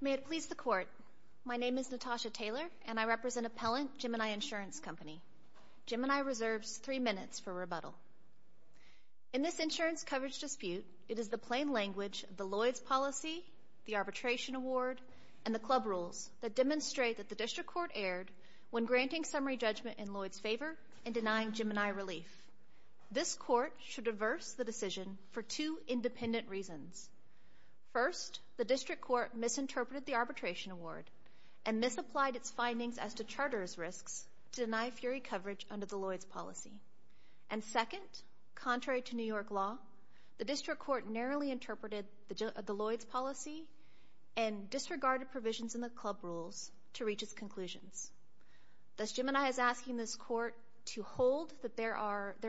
May it please the Court, my name is Natasha Taylor, and I represent Appellant Gemini Insurance Company. Gemini reserves three minutes for rebuttal. In this insurance coverage dispute, it is the plain language of the Lloyds policy, the arbitration award, and the club rules that demonstrate that the District Court erred when granting summary judgment in Lloyds' favor and denying Gemini relief. This Court should averse the decision for two independent reasons. First, the District Court misinterpreted the arbitration award and misapplied its findings as to charters' risks to deny fury coverage under the Lloyds policy. And second, contrary to New York law, the District Court narrowly interpreted the Lloyds policy and disregarded provisions in the club rules to reach its conclusions. Thus, Gemini is asking this Court to hold that there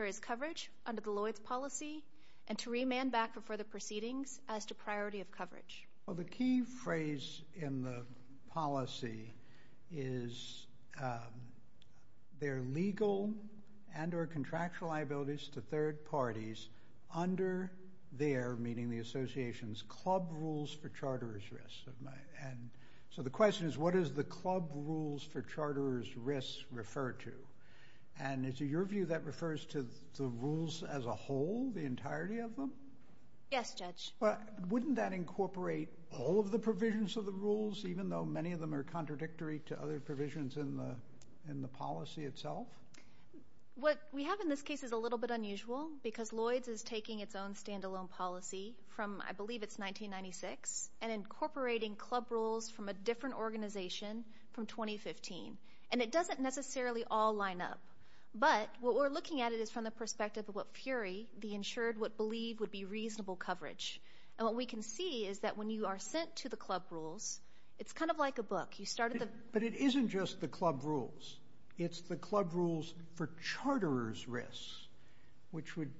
is coverage under the Lloyds policy and to remand back for further proceedings as to priority of coverage. Well, the key phrase in the policy is there are legal and or contractual liabilities to third parties under their, meaning the association's, club rules for charters' risks. So the question is, what does the club rules for charters' risks refer to? And is it your view that refers to the rules as a whole, the entirety of them? Yes, Judge. Wouldn't that incorporate all of the provisions of the rules, even though many of them are contradictory to other provisions in the policy itself? What we have in this case is a little bit unusual because Lloyds is taking its own standalone policy from, I believe it's 1996, and incorporating club rules from a different organization from 2015. And it doesn't necessarily all line up. But what we're looking at it is from the perspective of what Fury, the insured, would believe would be reasonable coverage. And what we can see is that when you are sent to the club rules, it's kind of like a book. But it isn't just the club rules. It's the club rules for charters' risks, which would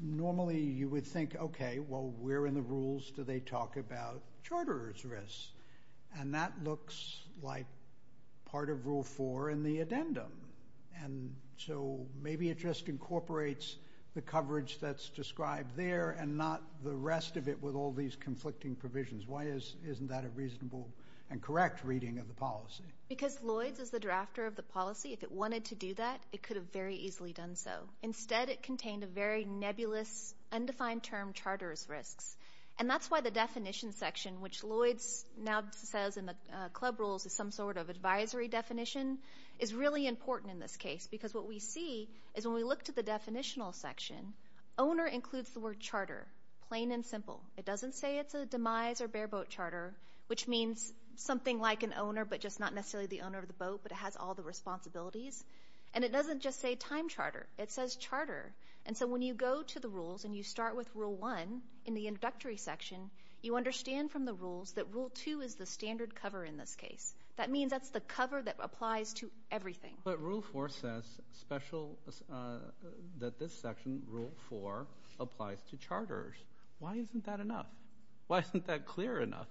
normally you would think, okay, well, where in the rules do they talk about charters' risks? And that looks like part of Rule 4 in the addendum. And so maybe it just incorporates the coverage that's described there and not the rest of it with all these conflicting provisions. Why isn't that a reasonable and correct reading of the policy? Because Lloyds is the drafter of the policy. If it wanted to do that, it could have very easily done so. Instead, it contained a very nebulous, undefined term, charters' risks. And that's why the definition section, which Lloyds now says in the club rules is some sort of advisory definition, is really important in this case. Because what we see is when we look to the definitional section, owner includes the word charter, plain and simple. It doesn't say it's a demise or bareboat charter, which means something like an owner but just not necessarily the owner of the boat, but it has all the responsibilities. And it doesn't just say time charter. It says charter. And so when you go to the rules and you start with Rule 1 in the introductory section, you understand from the rules that Rule 2 is the standard cover in this case. That means that's the cover that applies to everything. But Rule 4 says that this section, Rule 4, applies to charters. Why isn't that enough? Why isn't that clear enough?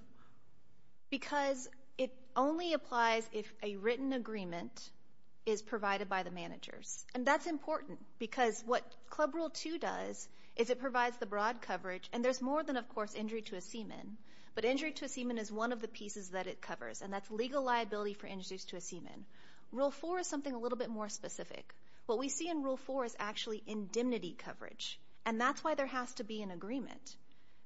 Because it only applies if a written agreement is provided by the managers. And that's important because what Club Rule 2 does is it provides the broad coverage, and there's more than, of course, injury to a seaman. But injury to a seaman is one of the pieces that it covers, and that's legal liability for injuries to a seaman. Rule 4 is something a little bit more specific. What we see in Rule 4 is actually indemnity coverage, and that's why there has to be an agreement.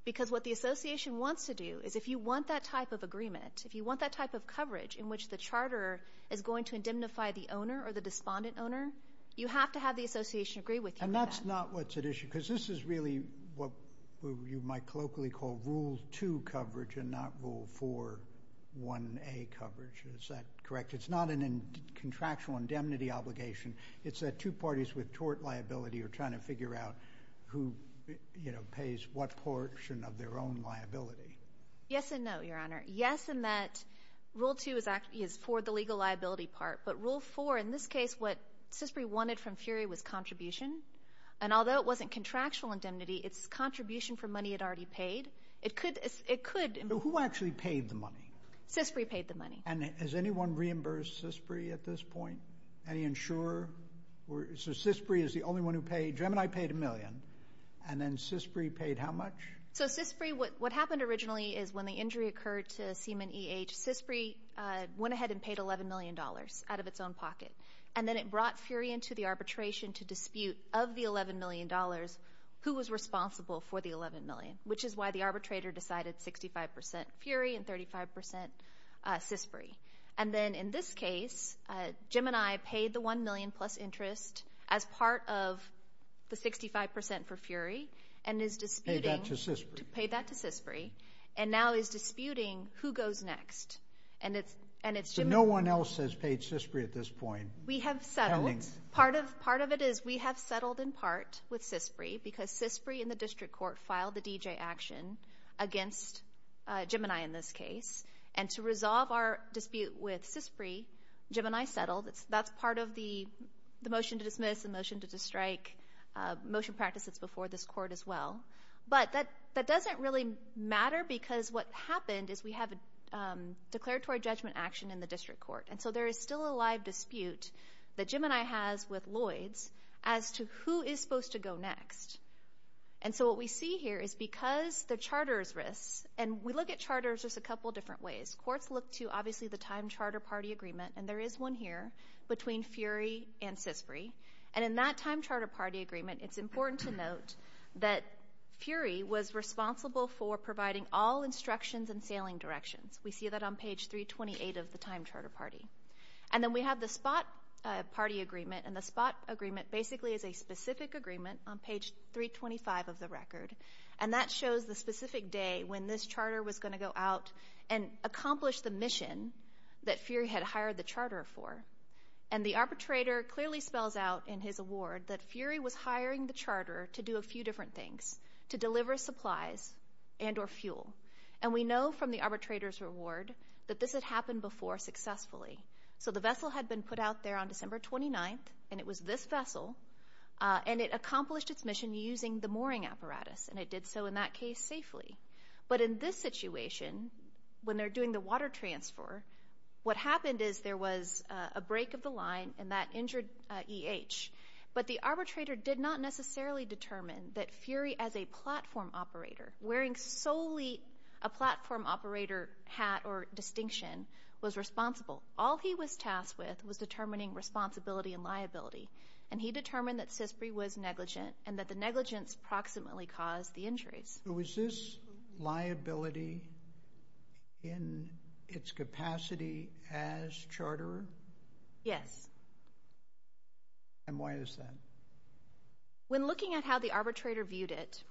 Because what the association wants to do is if you want that type of agreement, if you want that type of coverage in which the charterer is going to indemnify the owner or the despondent owner, you have to have the association agree with you on that. And that's not what's at issue because this is really what you might colloquially call Rule 2 coverage and not Rule 4 1A coverage. Is that correct? It's not a contractual indemnity obligation. It's that two parties with tort liability are trying to figure out who, you know, pays what portion of their own liability. Yes and no, Your Honor. Yes, in that Rule 2 is for the legal liability part. But Rule 4, in this case, what CISPRI wanted from Fury was contribution. And although it wasn't contractual indemnity, it's contribution for money it already paid. It could. Who actually paid the money? CISPRI paid the money. And has anyone reimbursed CISPRI at this point? Any insurer? So CISPRI is the only one who paid. Gemini paid a million. And then CISPRI paid how much? So CISPRI, what happened originally is when the injury occurred to Seaman E.H., CISPRI went ahead and paid $11 million out of its own pocket. And then it brought Fury into the arbitration to dispute, of the $11 million, who was responsible for the $11 million, which is why the arbitrator decided 65% Fury and 35% CISPRI. And then in this case, Gemini paid the $1 million plus interest as part of the 65% for Fury and is disputing to pay that to CISPRI. And now is disputing who goes next. So no one else has paid CISPRI at this point? We have settled. Part of it is we have settled in part with CISPRI because CISPRI and the district court filed the DJ action against Gemini in this case. And to resolve our dispute with CISPRI, Gemini settled. That's part of the motion to dismiss, the motion to strike, motion practice that's before this court as well. But that doesn't really matter because what happened is we have declaratory judgment action in the district court. And so there is still a live dispute that Gemini has with Lloyds as to who is supposed to go next. And so what we see here is because the charter's risks, and we look at charters just a couple different ways. Courts look to, obviously, the time charter party agreement, and there is one here between Fury and CISPRI. And in that time charter party agreement, it's important to note that Fury was responsible for providing all instructions and sailing directions. We see that on page 328 of the time charter party. And then we have the spot party agreement, and the spot agreement basically is a specific agreement on page 325 of the record. And that shows the specific day when this charter was going to go out and accomplish the mission that Fury had hired the charter for. And the arbitrator clearly spells out in his award that Fury was hiring the charter to do a few different things, to deliver supplies and or fuel. And we know from the arbitrator's reward that this had happened before successfully. So the vessel had been put out there on December 29th, and it was this vessel, and it accomplished its mission using the mooring apparatus, and it did so in that case safely. But in this situation, when they're doing the water transfer, what happened is there was a break of the line and that injured EH. But the arbitrator did not necessarily determine that Fury as a platform operator, wearing solely a platform operator hat or distinction, was responsible. All he was tasked with was determining responsibility and liability. And he determined that CISPRI was negligent and that the negligence approximately caused the injuries. So is this liability in its capacity as charterer? Yes. And why is that? When looking at how the arbitrator viewed it,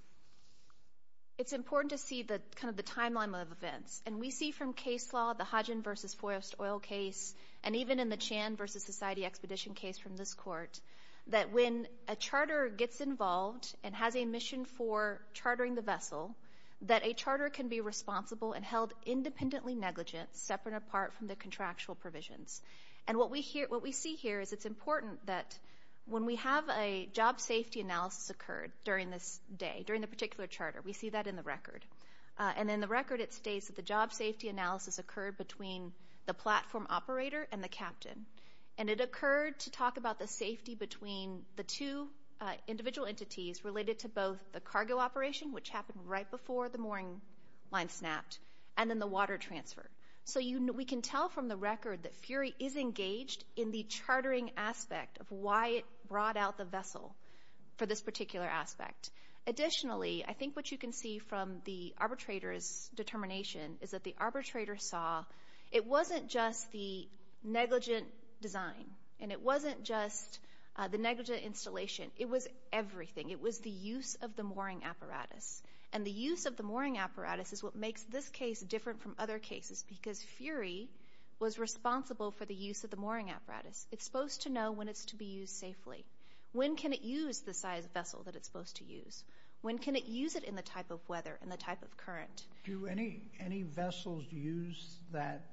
it's important to see kind of the timeline of events. And we see from case law, the Hodgin v. Forrest Oil case, and even in the Chan v. Society Expedition case from this court, that when a charterer gets involved and has a mission for chartering the vessel, that a charterer can be responsible and held independently negligent, separate and apart from the contractual provisions. And what we see here is it's important that when we have a job safety analysis occurred during this day, during the particular charter, we see that in the record. And in the record it states that the job safety analysis occurred between the platform operator and the captain. And it occurred to talk about the safety between the two individual entities related to both the cargo operation, which happened right before the mooring line snapped, and then the water transfer. So we can tell from the record that Fury is engaged in the chartering aspect of why it brought out the vessel for this particular aspect. Additionally, I think what you can see from the arbitrator's determination is that the arbitrator saw it wasn't just the negligent design and it wasn't just the negligent installation. It was everything. It was the use of the mooring apparatus. And the use of the mooring apparatus is what makes this case different from other cases because Fury was responsible for the use of the mooring apparatus. It's supposed to know when it's to be used safely. When can it use the size of vessel that it's supposed to use? When can it use it in the type of weather and the type of current? Do any vessels use that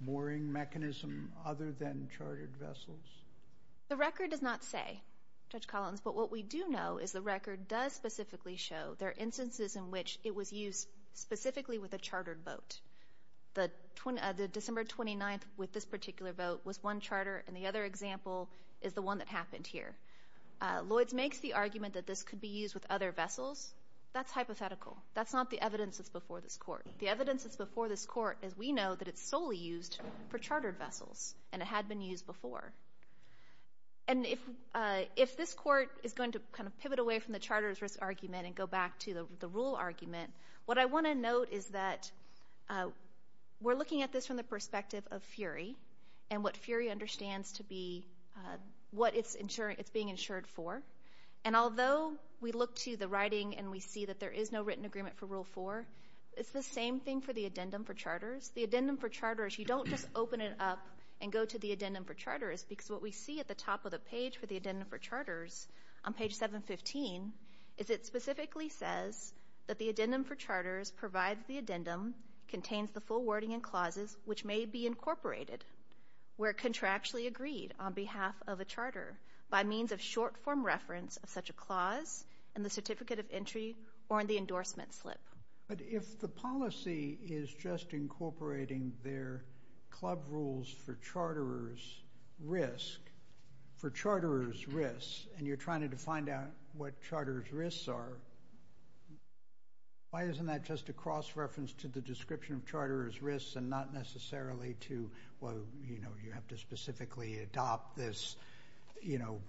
mooring mechanism other than chartered vessels? The record does not say, Judge Collins, but what we do know is the record does specifically show there are instances in which it was used specifically with a chartered boat. The December 29th with this particular boat was one charter, and the other example is the one that happened here. Lloyds makes the argument that this could be used with other vessels. That's hypothetical. That's not the evidence that's before this court. The evidence that's before this court is we know that it's solely used for chartered vessels, and it had been used before. And if this court is going to kind of pivot away from the charter's risk argument and go back to the rule argument, what I want to note is that we're looking at this from the perspective of Fury and what Fury understands to be what it's being insured for. And although we look to the writing and we see that there is no written agreement for Rule 4, it's the same thing for the addendum for charters. The addendum for charters, you don't just open it up and go to the addendum for charters because what we see at the top of the page for the addendum for charters on page 715 is it specifically says that the addendum for charters provides the addendum, contains the full wording and clauses, which may be incorporated where contractually agreed on behalf of a charter by means of short-form reference of such a clause in the certificate of entry or in the endorsement slip. But if the policy is just incorporating their club rules for charterers' risk, for charterers' risks, and you're trying to find out what charterers' risks are, why isn't that just a cross-reference to the description of charterers' risks and not necessarily to, well, you have to specifically adopt this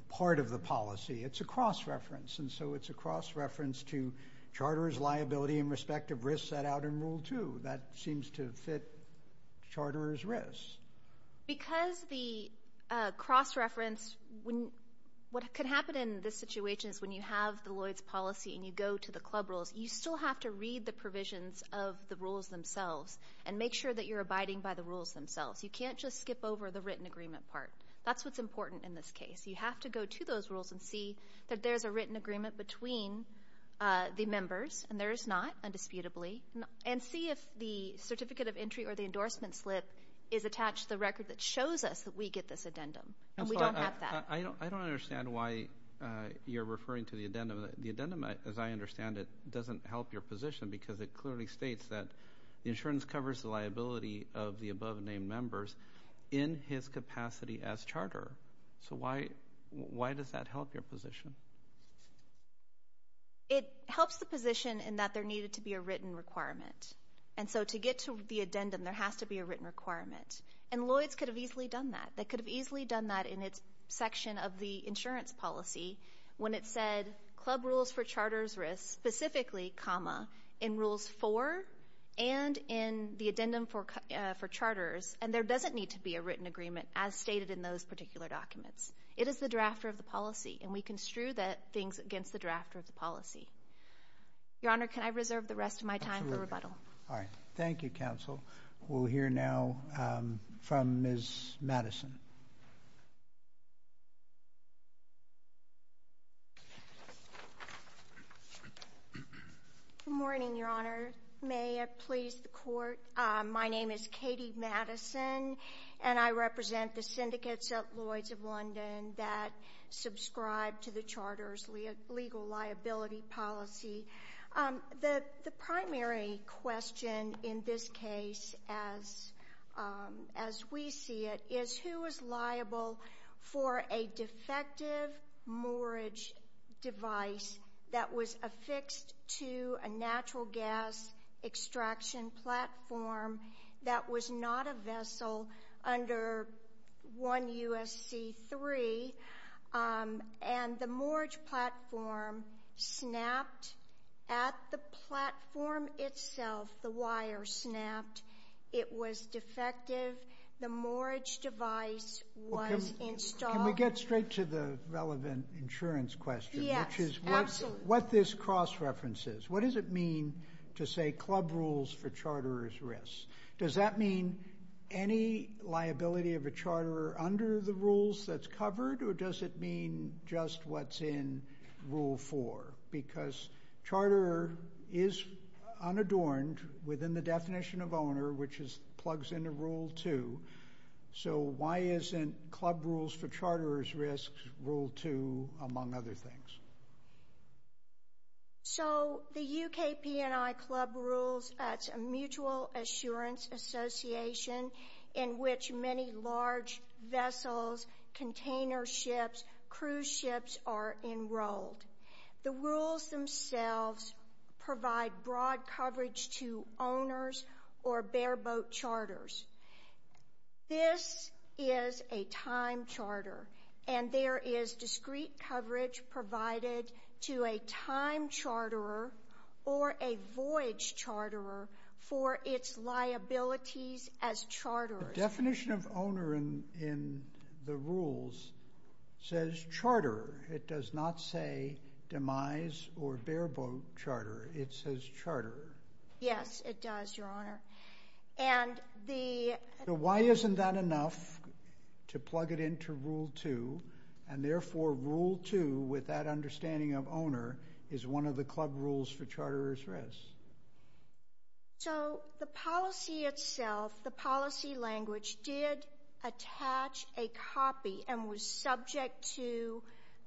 part of the policy? It's a cross-reference. And so it's a cross-reference to charters' liability and respective risks set out in Rule 2. That seems to fit charters' risks. Because the cross-reference, what could happen in this situation is when you have the Lloyds policy and you go to the club rules, you still have to read the provisions of the rules themselves and make sure that you're abiding by the rules themselves. You can't just skip over the written agreement part. That's what's important in this case. You have to go to those rules and see that there's a written agreement between the members, and there is not, indisputably, and see if the certificate of entry or the endorsement slip is attached to the record that shows us that we get this addendum, and we don't have that. I don't understand why you're referring to the addendum. The addendum, as I understand it, doesn't help your position because it clearly states that the insurance covers the liability of the above-named members in his capacity as charterer. So why does that help your position? It helps the position in that there needed to be a written requirement. And so to get to the addendum, there has to be a written requirement. And Lloyds could have easily done that. They could have easily done that in its section of the insurance policy when it said club rules for charters risk, specifically, comma, in rules 4 and in the addendum for charters, and there doesn't need to be a written agreement as stated in those particular documents. It is the drafter of the policy, and we construe things against the drafter of the policy. Your Honor, can I reserve the rest of my time for rebuttal? All right. Thank you, counsel. We'll hear now from Ms. Madison. Good morning, Your Honor. May it please the Court. My name is Katie Madison, and I represent the syndicates at Lloyds of London that subscribe to the charter's legal liability policy. The primary question in this case, as we see it, is who is liable for a defective moorage device that was affixed to a natural gas extraction platform that was not a vessel under 1 U.S.C. 3, and the moorage platform snapped at the platform itself. The wire snapped. It was defective. The moorage device was installed. Can we get straight to the relevant insurance question? Yes, absolutely. Which is what this cross-reference is. What does it mean to say club rules for charters risk? Does that mean any liability of a charter under the rules that's covered, or does it mean just what's in Rule 4? Because charter is unadorned within the definition of owner, which plugs into Rule 2. So why isn't club rules for charters risks Rule 2, among other things? So the UK P&I club rules, that's a mutual assurance association in which many large vessels, container ships, cruise ships are enrolled. The rules themselves provide broad coverage to owners or bare boat charters. This is a time charter, and there is discrete coverage provided to a time charterer or a voyage charterer for its liabilities as charters. The definition of owner in the rules says charterer. It does not say demise or bare boat charterer. It says charterer. Yes, it does, Your Honor. So why isn't that enough to plug it into Rule 2, and therefore Rule 2, with that understanding of owner, is one of the club rules for charters risks? So the policy itself, the policy language, did attach a copy and was subject to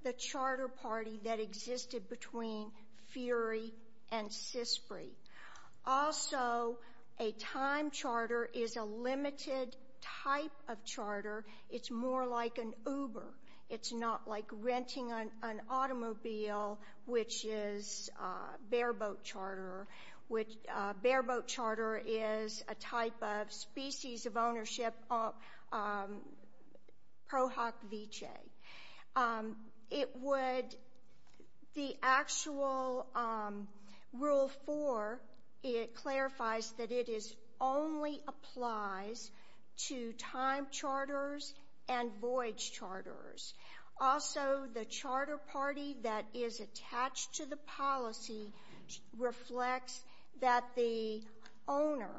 the charter party that existed between Fury and Cyspre. Also, a time charter is a limited type of charter. It's more like an Uber. It's not like renting an automobile, which is bare boat charterer, which bare boat charterer is a type of species of ownership pro hoc vicee. It would, the actual Rule 4, it clarifies that it only applies to time charters and voyage charters. Also, the charter party that is attached to the policy reflects that the owner,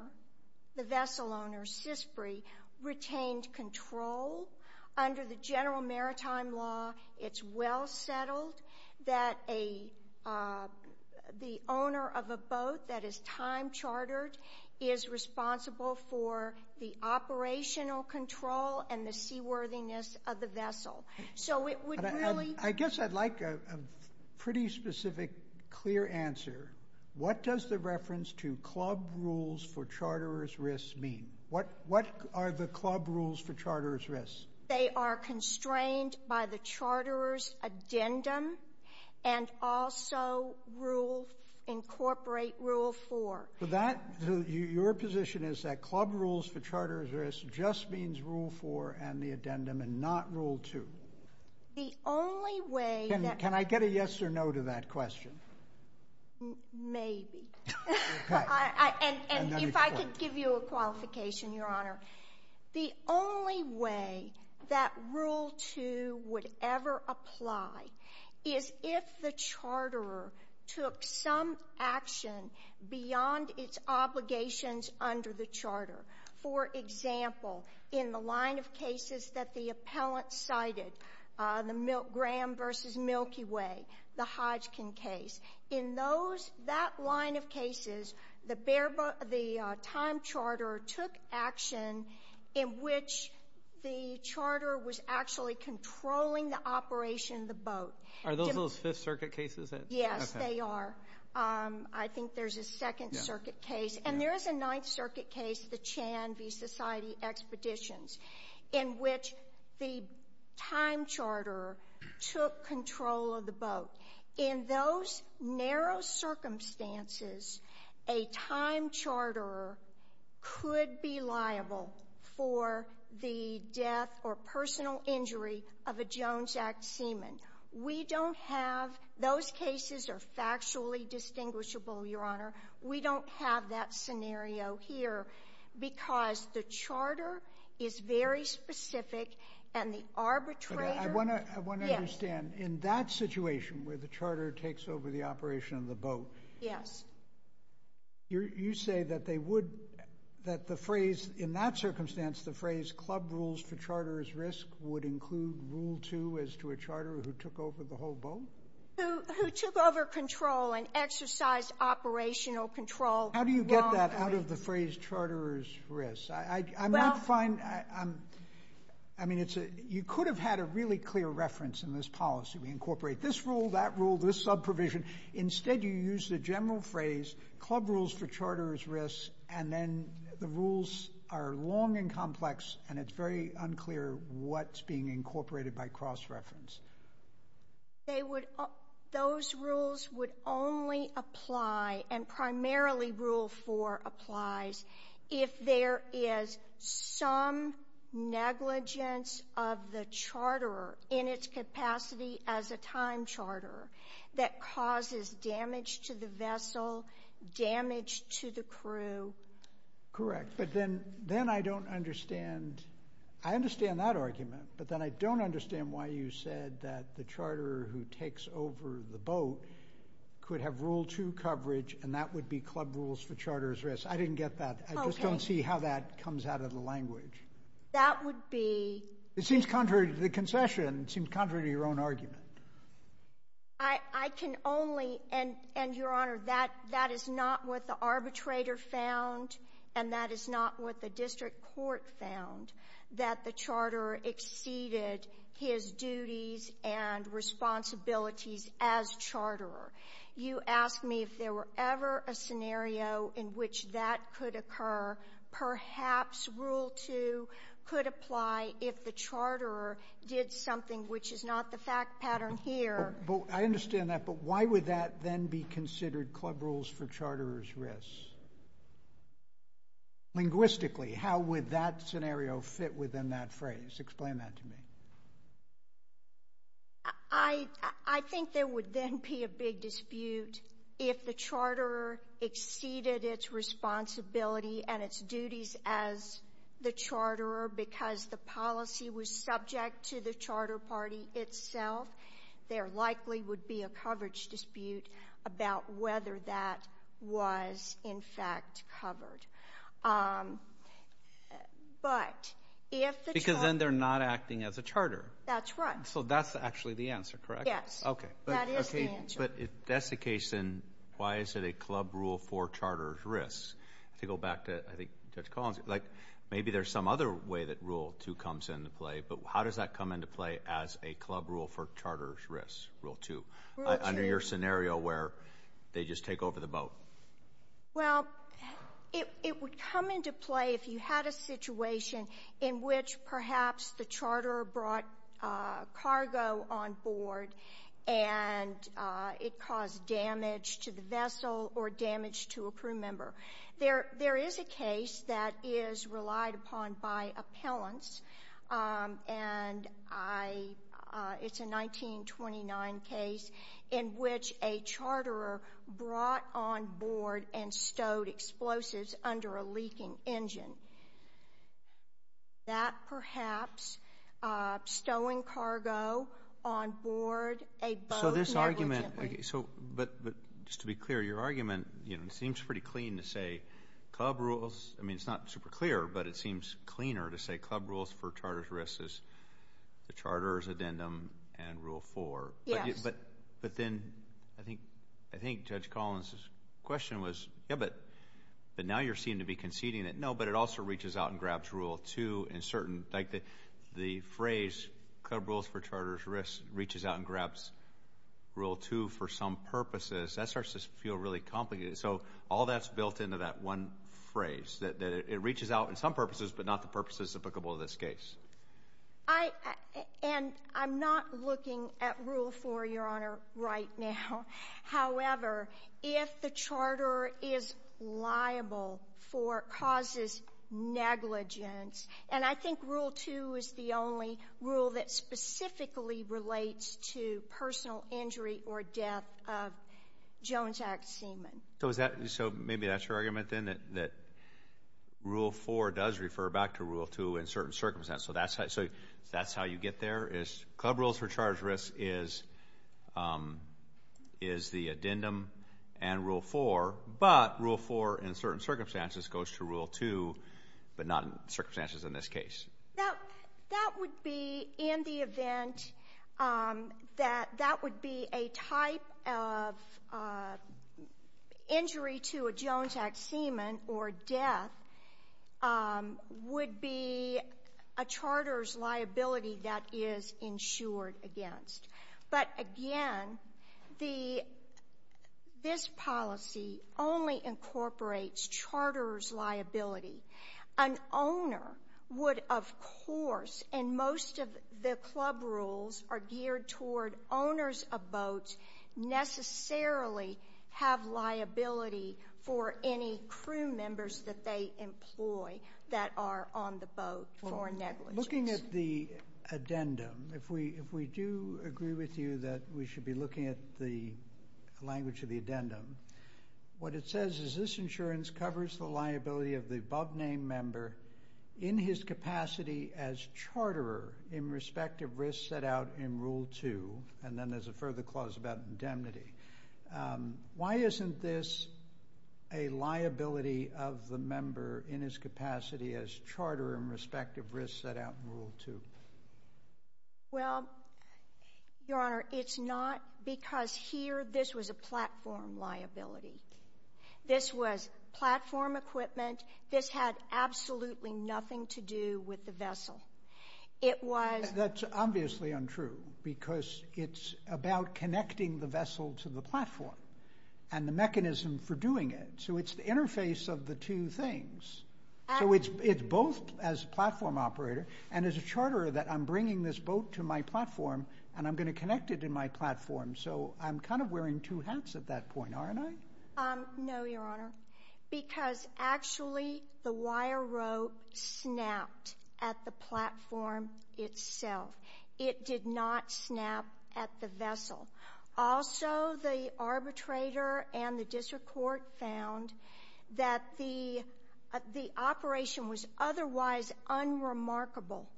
the vessel owner, Cyspre, retained control under the general maritime law. It's well settled that the owner of a boat that is time chartered is responsible for the operational control and the seaworthiness of the vessel. So it would really— I guess I'd like a pretty specific, clear answer. What does the reference to club rules for charterers risks mean? What are the club rules for charterers risks? They are constrained by the charterer's addendum and also incorporate Rule 4. Your position is that club rules for charterers risks just means Rule 4 and the addendum and not Rule 2? The only way that— Can I get a yes or no to that question? Maybe. And if I could give you a qualification, Your Honor. The only way that Rule 2 would ever apply is if the charterer took some action beyond its obligations under the charter. For example, in the line of cases that the appellant cited, the Graham v. Milky Way, the Hodgkin case, in that line of cases, the time charterer took action in which the charterer was actually controlling the operation of the boat. Are those those Fifth Circuit cases? Yes, they are. I think there's a Second Circuit case. And there is a Ninth Circuit case, the Chan v. Society Expeditions, in which the time charterer took control of the boat. In those narrow circumstances, a time charterer could be liable for the death or personal injury of a Jones Act seaman. We don't have — those cases are factually distinguishable, Your Honor. We don't have that scenario here because the charter is very specific and the arbitrator— I want to understand, in that situation, where the charterer takes over the operation of the boat, you say that they would — that the phrase, in that circumstance, the phrase, Club Rules for Charterers' Risk, would include Rule 2 as to a charterer who took over the whole boat? Who took over control and exercised operational control. How do you get that out of the phrase, Charterers' Risk? I'm not fine. I mean, you could have had a really clear reference in this policy. We incorporate this rule, that rule, this subprovision. Instead, you use the general phrase, Club Rules for Charterers' Risk, and then the rules are long and complex, and it's very unclear what's being incorporated by cross-reference. Those rules would only apply, and primarily Rule 4 applies, if there is some negligence of the charterer in its capacity as a time charterer that causes damage to the vessel, damage to the crew. Correct, but then I don't understand. I understand that argument, but then I don't understand why you said that the charterer who takes over the boat could have Rule 2 coverage and that would be Club Rules for Charterers' Risk. I didn't get that. I just don't see how that comes out of the language. That would be — It seems contrary to the concession. It seems contrary to your own argument. I can only — and, Your Honor, that is not what the arbitrator found, and that is not what the district court found, that the charterer exceeded his duties and responsibilities as charterer. You asked me if there were ever a scenario in which that could occur. Perhaps Rule 2 could apply if the charterer did something, which is not the fact pattern here. I understand that, but why would that then be considered Club Rules for Charterers' Risk? Linguistically, how would that scenario fit within that phrase? Explain that to me. I think there would then be a big dispute if the charterer exceeded its responsibility and its duties as the charterer because the policy was subject to the charter party itself. There likely would be a coverage dispute about whether that was, in fact, covered. But if the charterer — Because then they're not acting as a charterer. That's right. So that's actually the answer, correct? Yes. Okay. That is the answer. But if that's the case, then why is it a Club Rule for Charterers' Risk? To go back to, I think, Judge Collins, like maybe there's some other way that Rule 2 comes into play, but how does that come into play as a Club Rule for Charterers' Risk, Rule 2, under your scenario where they just take over the boat? Well, it would come into play if you had a situation in which perhaps the charterer brought cargo on board and it caused damage to the vessel or damage to a crew member. There is a case that is relied upon by appellants, and it's a 1929 case in which a charterer brought on board and stowed explosives under a leaking engine. That perhaps, stowing cargo on board a boat negligently. So this argument — but just to be clear, your argument seems pretty clean to say Club Rules — I mean, it's not super clear, but it seems cleaner to say Club Rules for Charterers' Risk is the charterer's addendum and Rule 4. Yes. But then I think Judge Collins' question was, yeah, but now you're seeming to be conceding that no, but it also reaches out and grabs Rule 2 in certain — like the phrase Club Rules for Charterers' Risk reaches out and grabs Rule 2 for some purposes. That starts to feel really complicated. So all that's built into that one phrase, that it reaches out in some purposes but not the purposes applicable to this case. And I'm not looking at Rule 4, Your Honor, right now. However, if the charterer is liable for — causes negligence, and I think Rule 2 is the only rule that specifically relates to personal injury or death of Jones Act semen. So is that — so maybe that's your argument then, that Rule 4 does refer back to Rule 2 in certain circumstances. So that's how you get there is Club Rules for Charterers' Risk is the addendum and Rule 4, but Rule 4 in certain circumstances goes to Rule 2 but not in circumstances in this case. That would be in the event that that would be a type of injury to a Jones Act semen or death would be a charterer's liability that is insured against. But again, the — this policy only incorporates charterer's liability. An owner would, of course, and most of the Club Rules are geared toward owners of boats necessarily have liability for any crew members that they employ that are on the boat for negligence. Well, looking at the addendum, if we do agree with you that we should be looking at the language of the addendum, what it says is this insurance covers the liability of the above-named member in his capacity as charterer in respect of risk set out in Rule 2. And then there's a further clause about indemnity. Why isn't this a liability of the member in his capacity as charterer in respect of risk set out in Rule 2? Well, Your Honor, it's not because here this was a platform liability. This was platform equipment. This had absolutely nothing to do with the vessel. It was — That's obviously untrue because it's about connecting the vessel to the platform and the mechanism for doing it. So it's the interface of the two things. So it's both as platform operator and as a charterer that I'm bringing this boat to my platform and I'm going to connect it to my platform. So I'm kind of wearing two hats at that point, aren't I? No, Your Honor, because actually the wire rope snapped at the platform itself. It did not snap at the vessel. Also, the arbitrator and the district court found that the operation was otherwise unremarkable,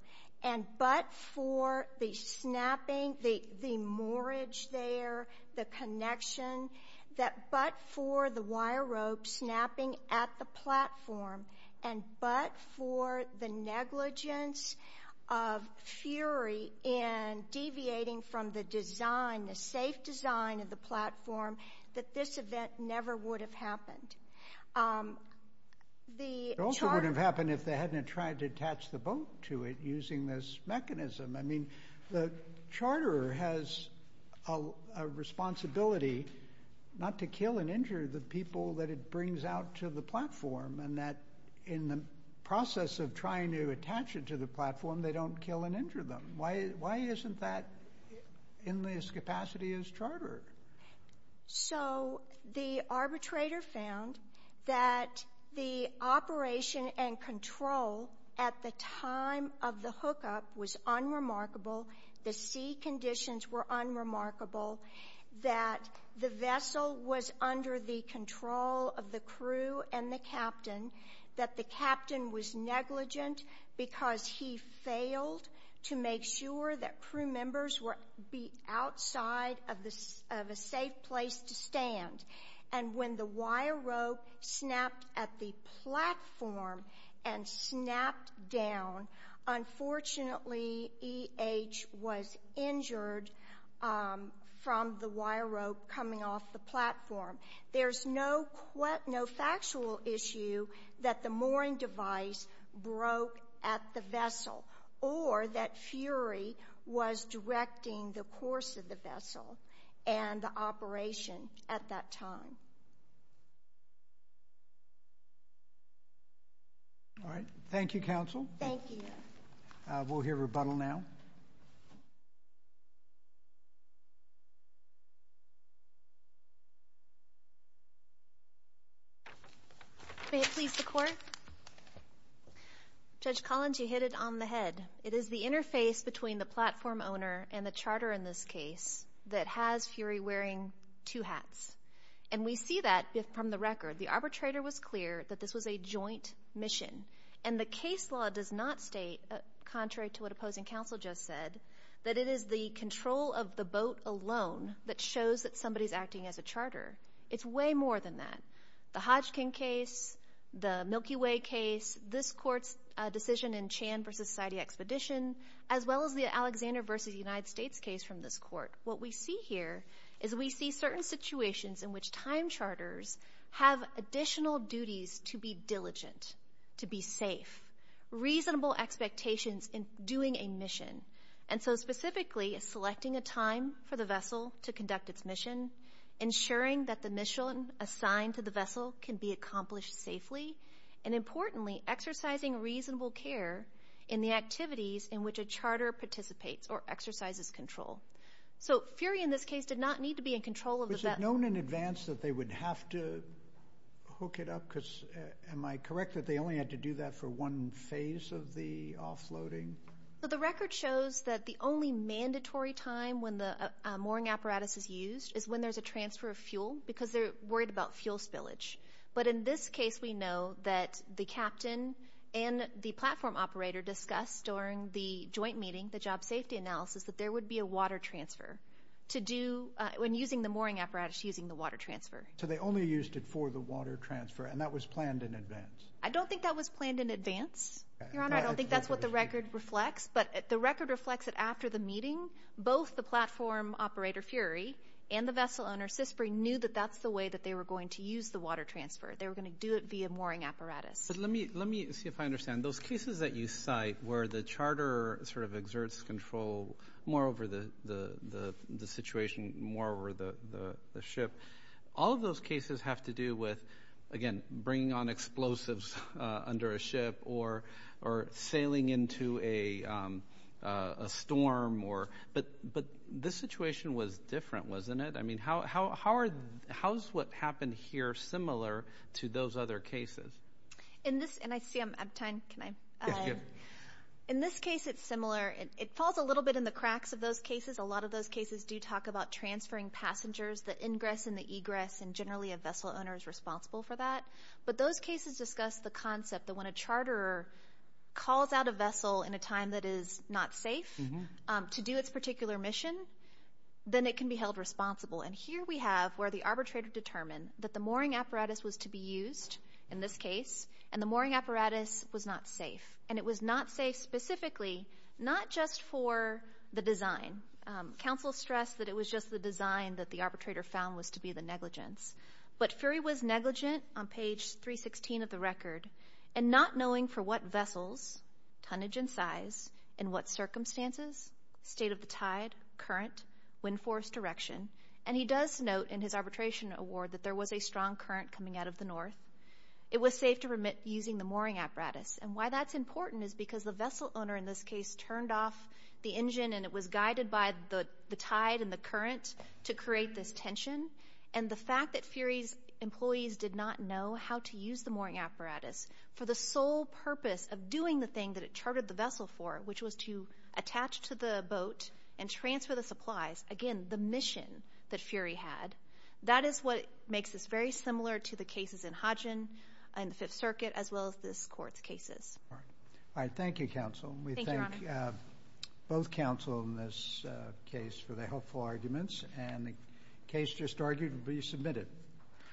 and but for the snapping, the moorage there, the connection, that but for the wire rope snapping at the platform and but for the negligence of fury in deviating from the design, the safe design of the platform, that this event never would have happened. It also wouldn't have happened if they hadn't tried to attach the boat to it using this mechanism. I mean, the charterer has a responsibility not to kill and injure the people that it brings out to the platform and that in the process of trying to attach it to the platform, they don't kill and injure them. Why isn't that in this capacity as charterer? So the arbitrator found that the operation and control at the time of the hookup was unremarkable, the sea conditions were unremarkable, that the vessel was under the control of the crew and the captain, that the captain was negligent because he failed to make sure that crew members were outside of a safe place to stand. And when the wire rope snapped at the platform and snapped down, unfortunately E.H. was injured from the wire rope coming off the platform. There's no factual issue that the mooring device broke at the vessel or that fury was directing the course of the vessel and the operation at that time. Thank you. All right. Thank you, counsel. Thank you. We'll hear rebuttal now. May it please the Court. Judge Collins, you hit it on the head. It is the interface between the platform owner and the charterer in this case that has Fury wearing two hats. And we see that from the record. The arbitrator was clear that this was a joint mission. And the case law does not state, contrary to what opposing counsel just said, that it is the control of the boat alone that shows that somebody is acting as a charterer. It's way more than that. The Hodgkin case, the Milky Way case, this Court's decision in Chan v. Society Expedition, as well as the Alexander v. United States case from this Court, what we see here is we see certain situations in which time charters have additional duties to be diligent, to be safe, reasonable expectations in doing a mission. And so specifically, selecting a time for the vessel to conduct its mission, ensuring that the mission assigned to the vessel can be accomplished safely, and importantly, exercising reasonable care in the activities in which a charterer participates or exercises control. So Fury in this case did not need to be in control of the vessel. Was it known in advance that they would have to hook it up? Because am I correct that they only had to do that for one phase of the offloading? The record shows that the only mandatory time when the mooring apparatus is used is when there's a transfer of fuel because they're worried about fuel spillage. But in this case, we know that the captain and the platform operator discussed during the joint meeting, the job safety analysis, that there would be a water transfer to do, when using the mooring apparatus, using the water transfer. So they only used it for the water transfer, and that was planned in advance? I don't think that was planned in advance, Your Honor. Your Honor, I don't think that's what the record reflects, but the record reflects that after the meeting, both the platform operator, Fury, and the vessel owner, Sisbury, knew that that's the way that they were going to use the water transfer. They were going to do it via mooring apparatus. But let me see if I understand. Those cases that you cite where the charterer sort of exerts control more over the situation, more over the ship, all of those cases have to do with, again, bringing on explosives under a ship or sailing into a storm. But this situation was different, wasn't it? I mean, how is what happened here similar to those other cases? And I see I'm out of time. In this case, it's similar. It falls a little bit in the cracks of those cases. A lot of those cases do talk about transferring passengers, the ingress and the egress, and generally a vessel owner is responsible for that. But those cases discuss the concept that when a charterer calls out a vessel in a time that is not safe to do its particular mission, then it can be held responsible. And here we have where the arbitrator determined that the mooring apparatus was to be used in this case, and the mooring apparatus was not safe. And it was not safe specifically not just for the design. Counsel stressed that it was just the design that the arbitrator found was to be the negligence. But Fury was negligent on page 316 of the record, and not knowing for what vessels, tonnage and size, in what circumstances, state of the tide, current, wind force direction. And he does note in his arbitration award that there was a strong current coming out of the north. It was safe to permit using the mooring apparatus. And why that's important is because the vessel owner in this case turned off the engine and it was guided by the tide and the current to create this tension. And the fact that Fury's employees did not know how to use the mooring apparatus for the sole purpose of doing the thing that it chartered the vessel for, which was to attach to the boat and transfer the supplies, again, the mission that Fury had, that is what makes this very similar to the cases in Hodgin and the Fifth Circuit as well as this court's cases. All right. Thank you, counsel. Thank you, Your Honor. We thank both counsel in this case for their helpful arguments. And the case just argued will be submitted.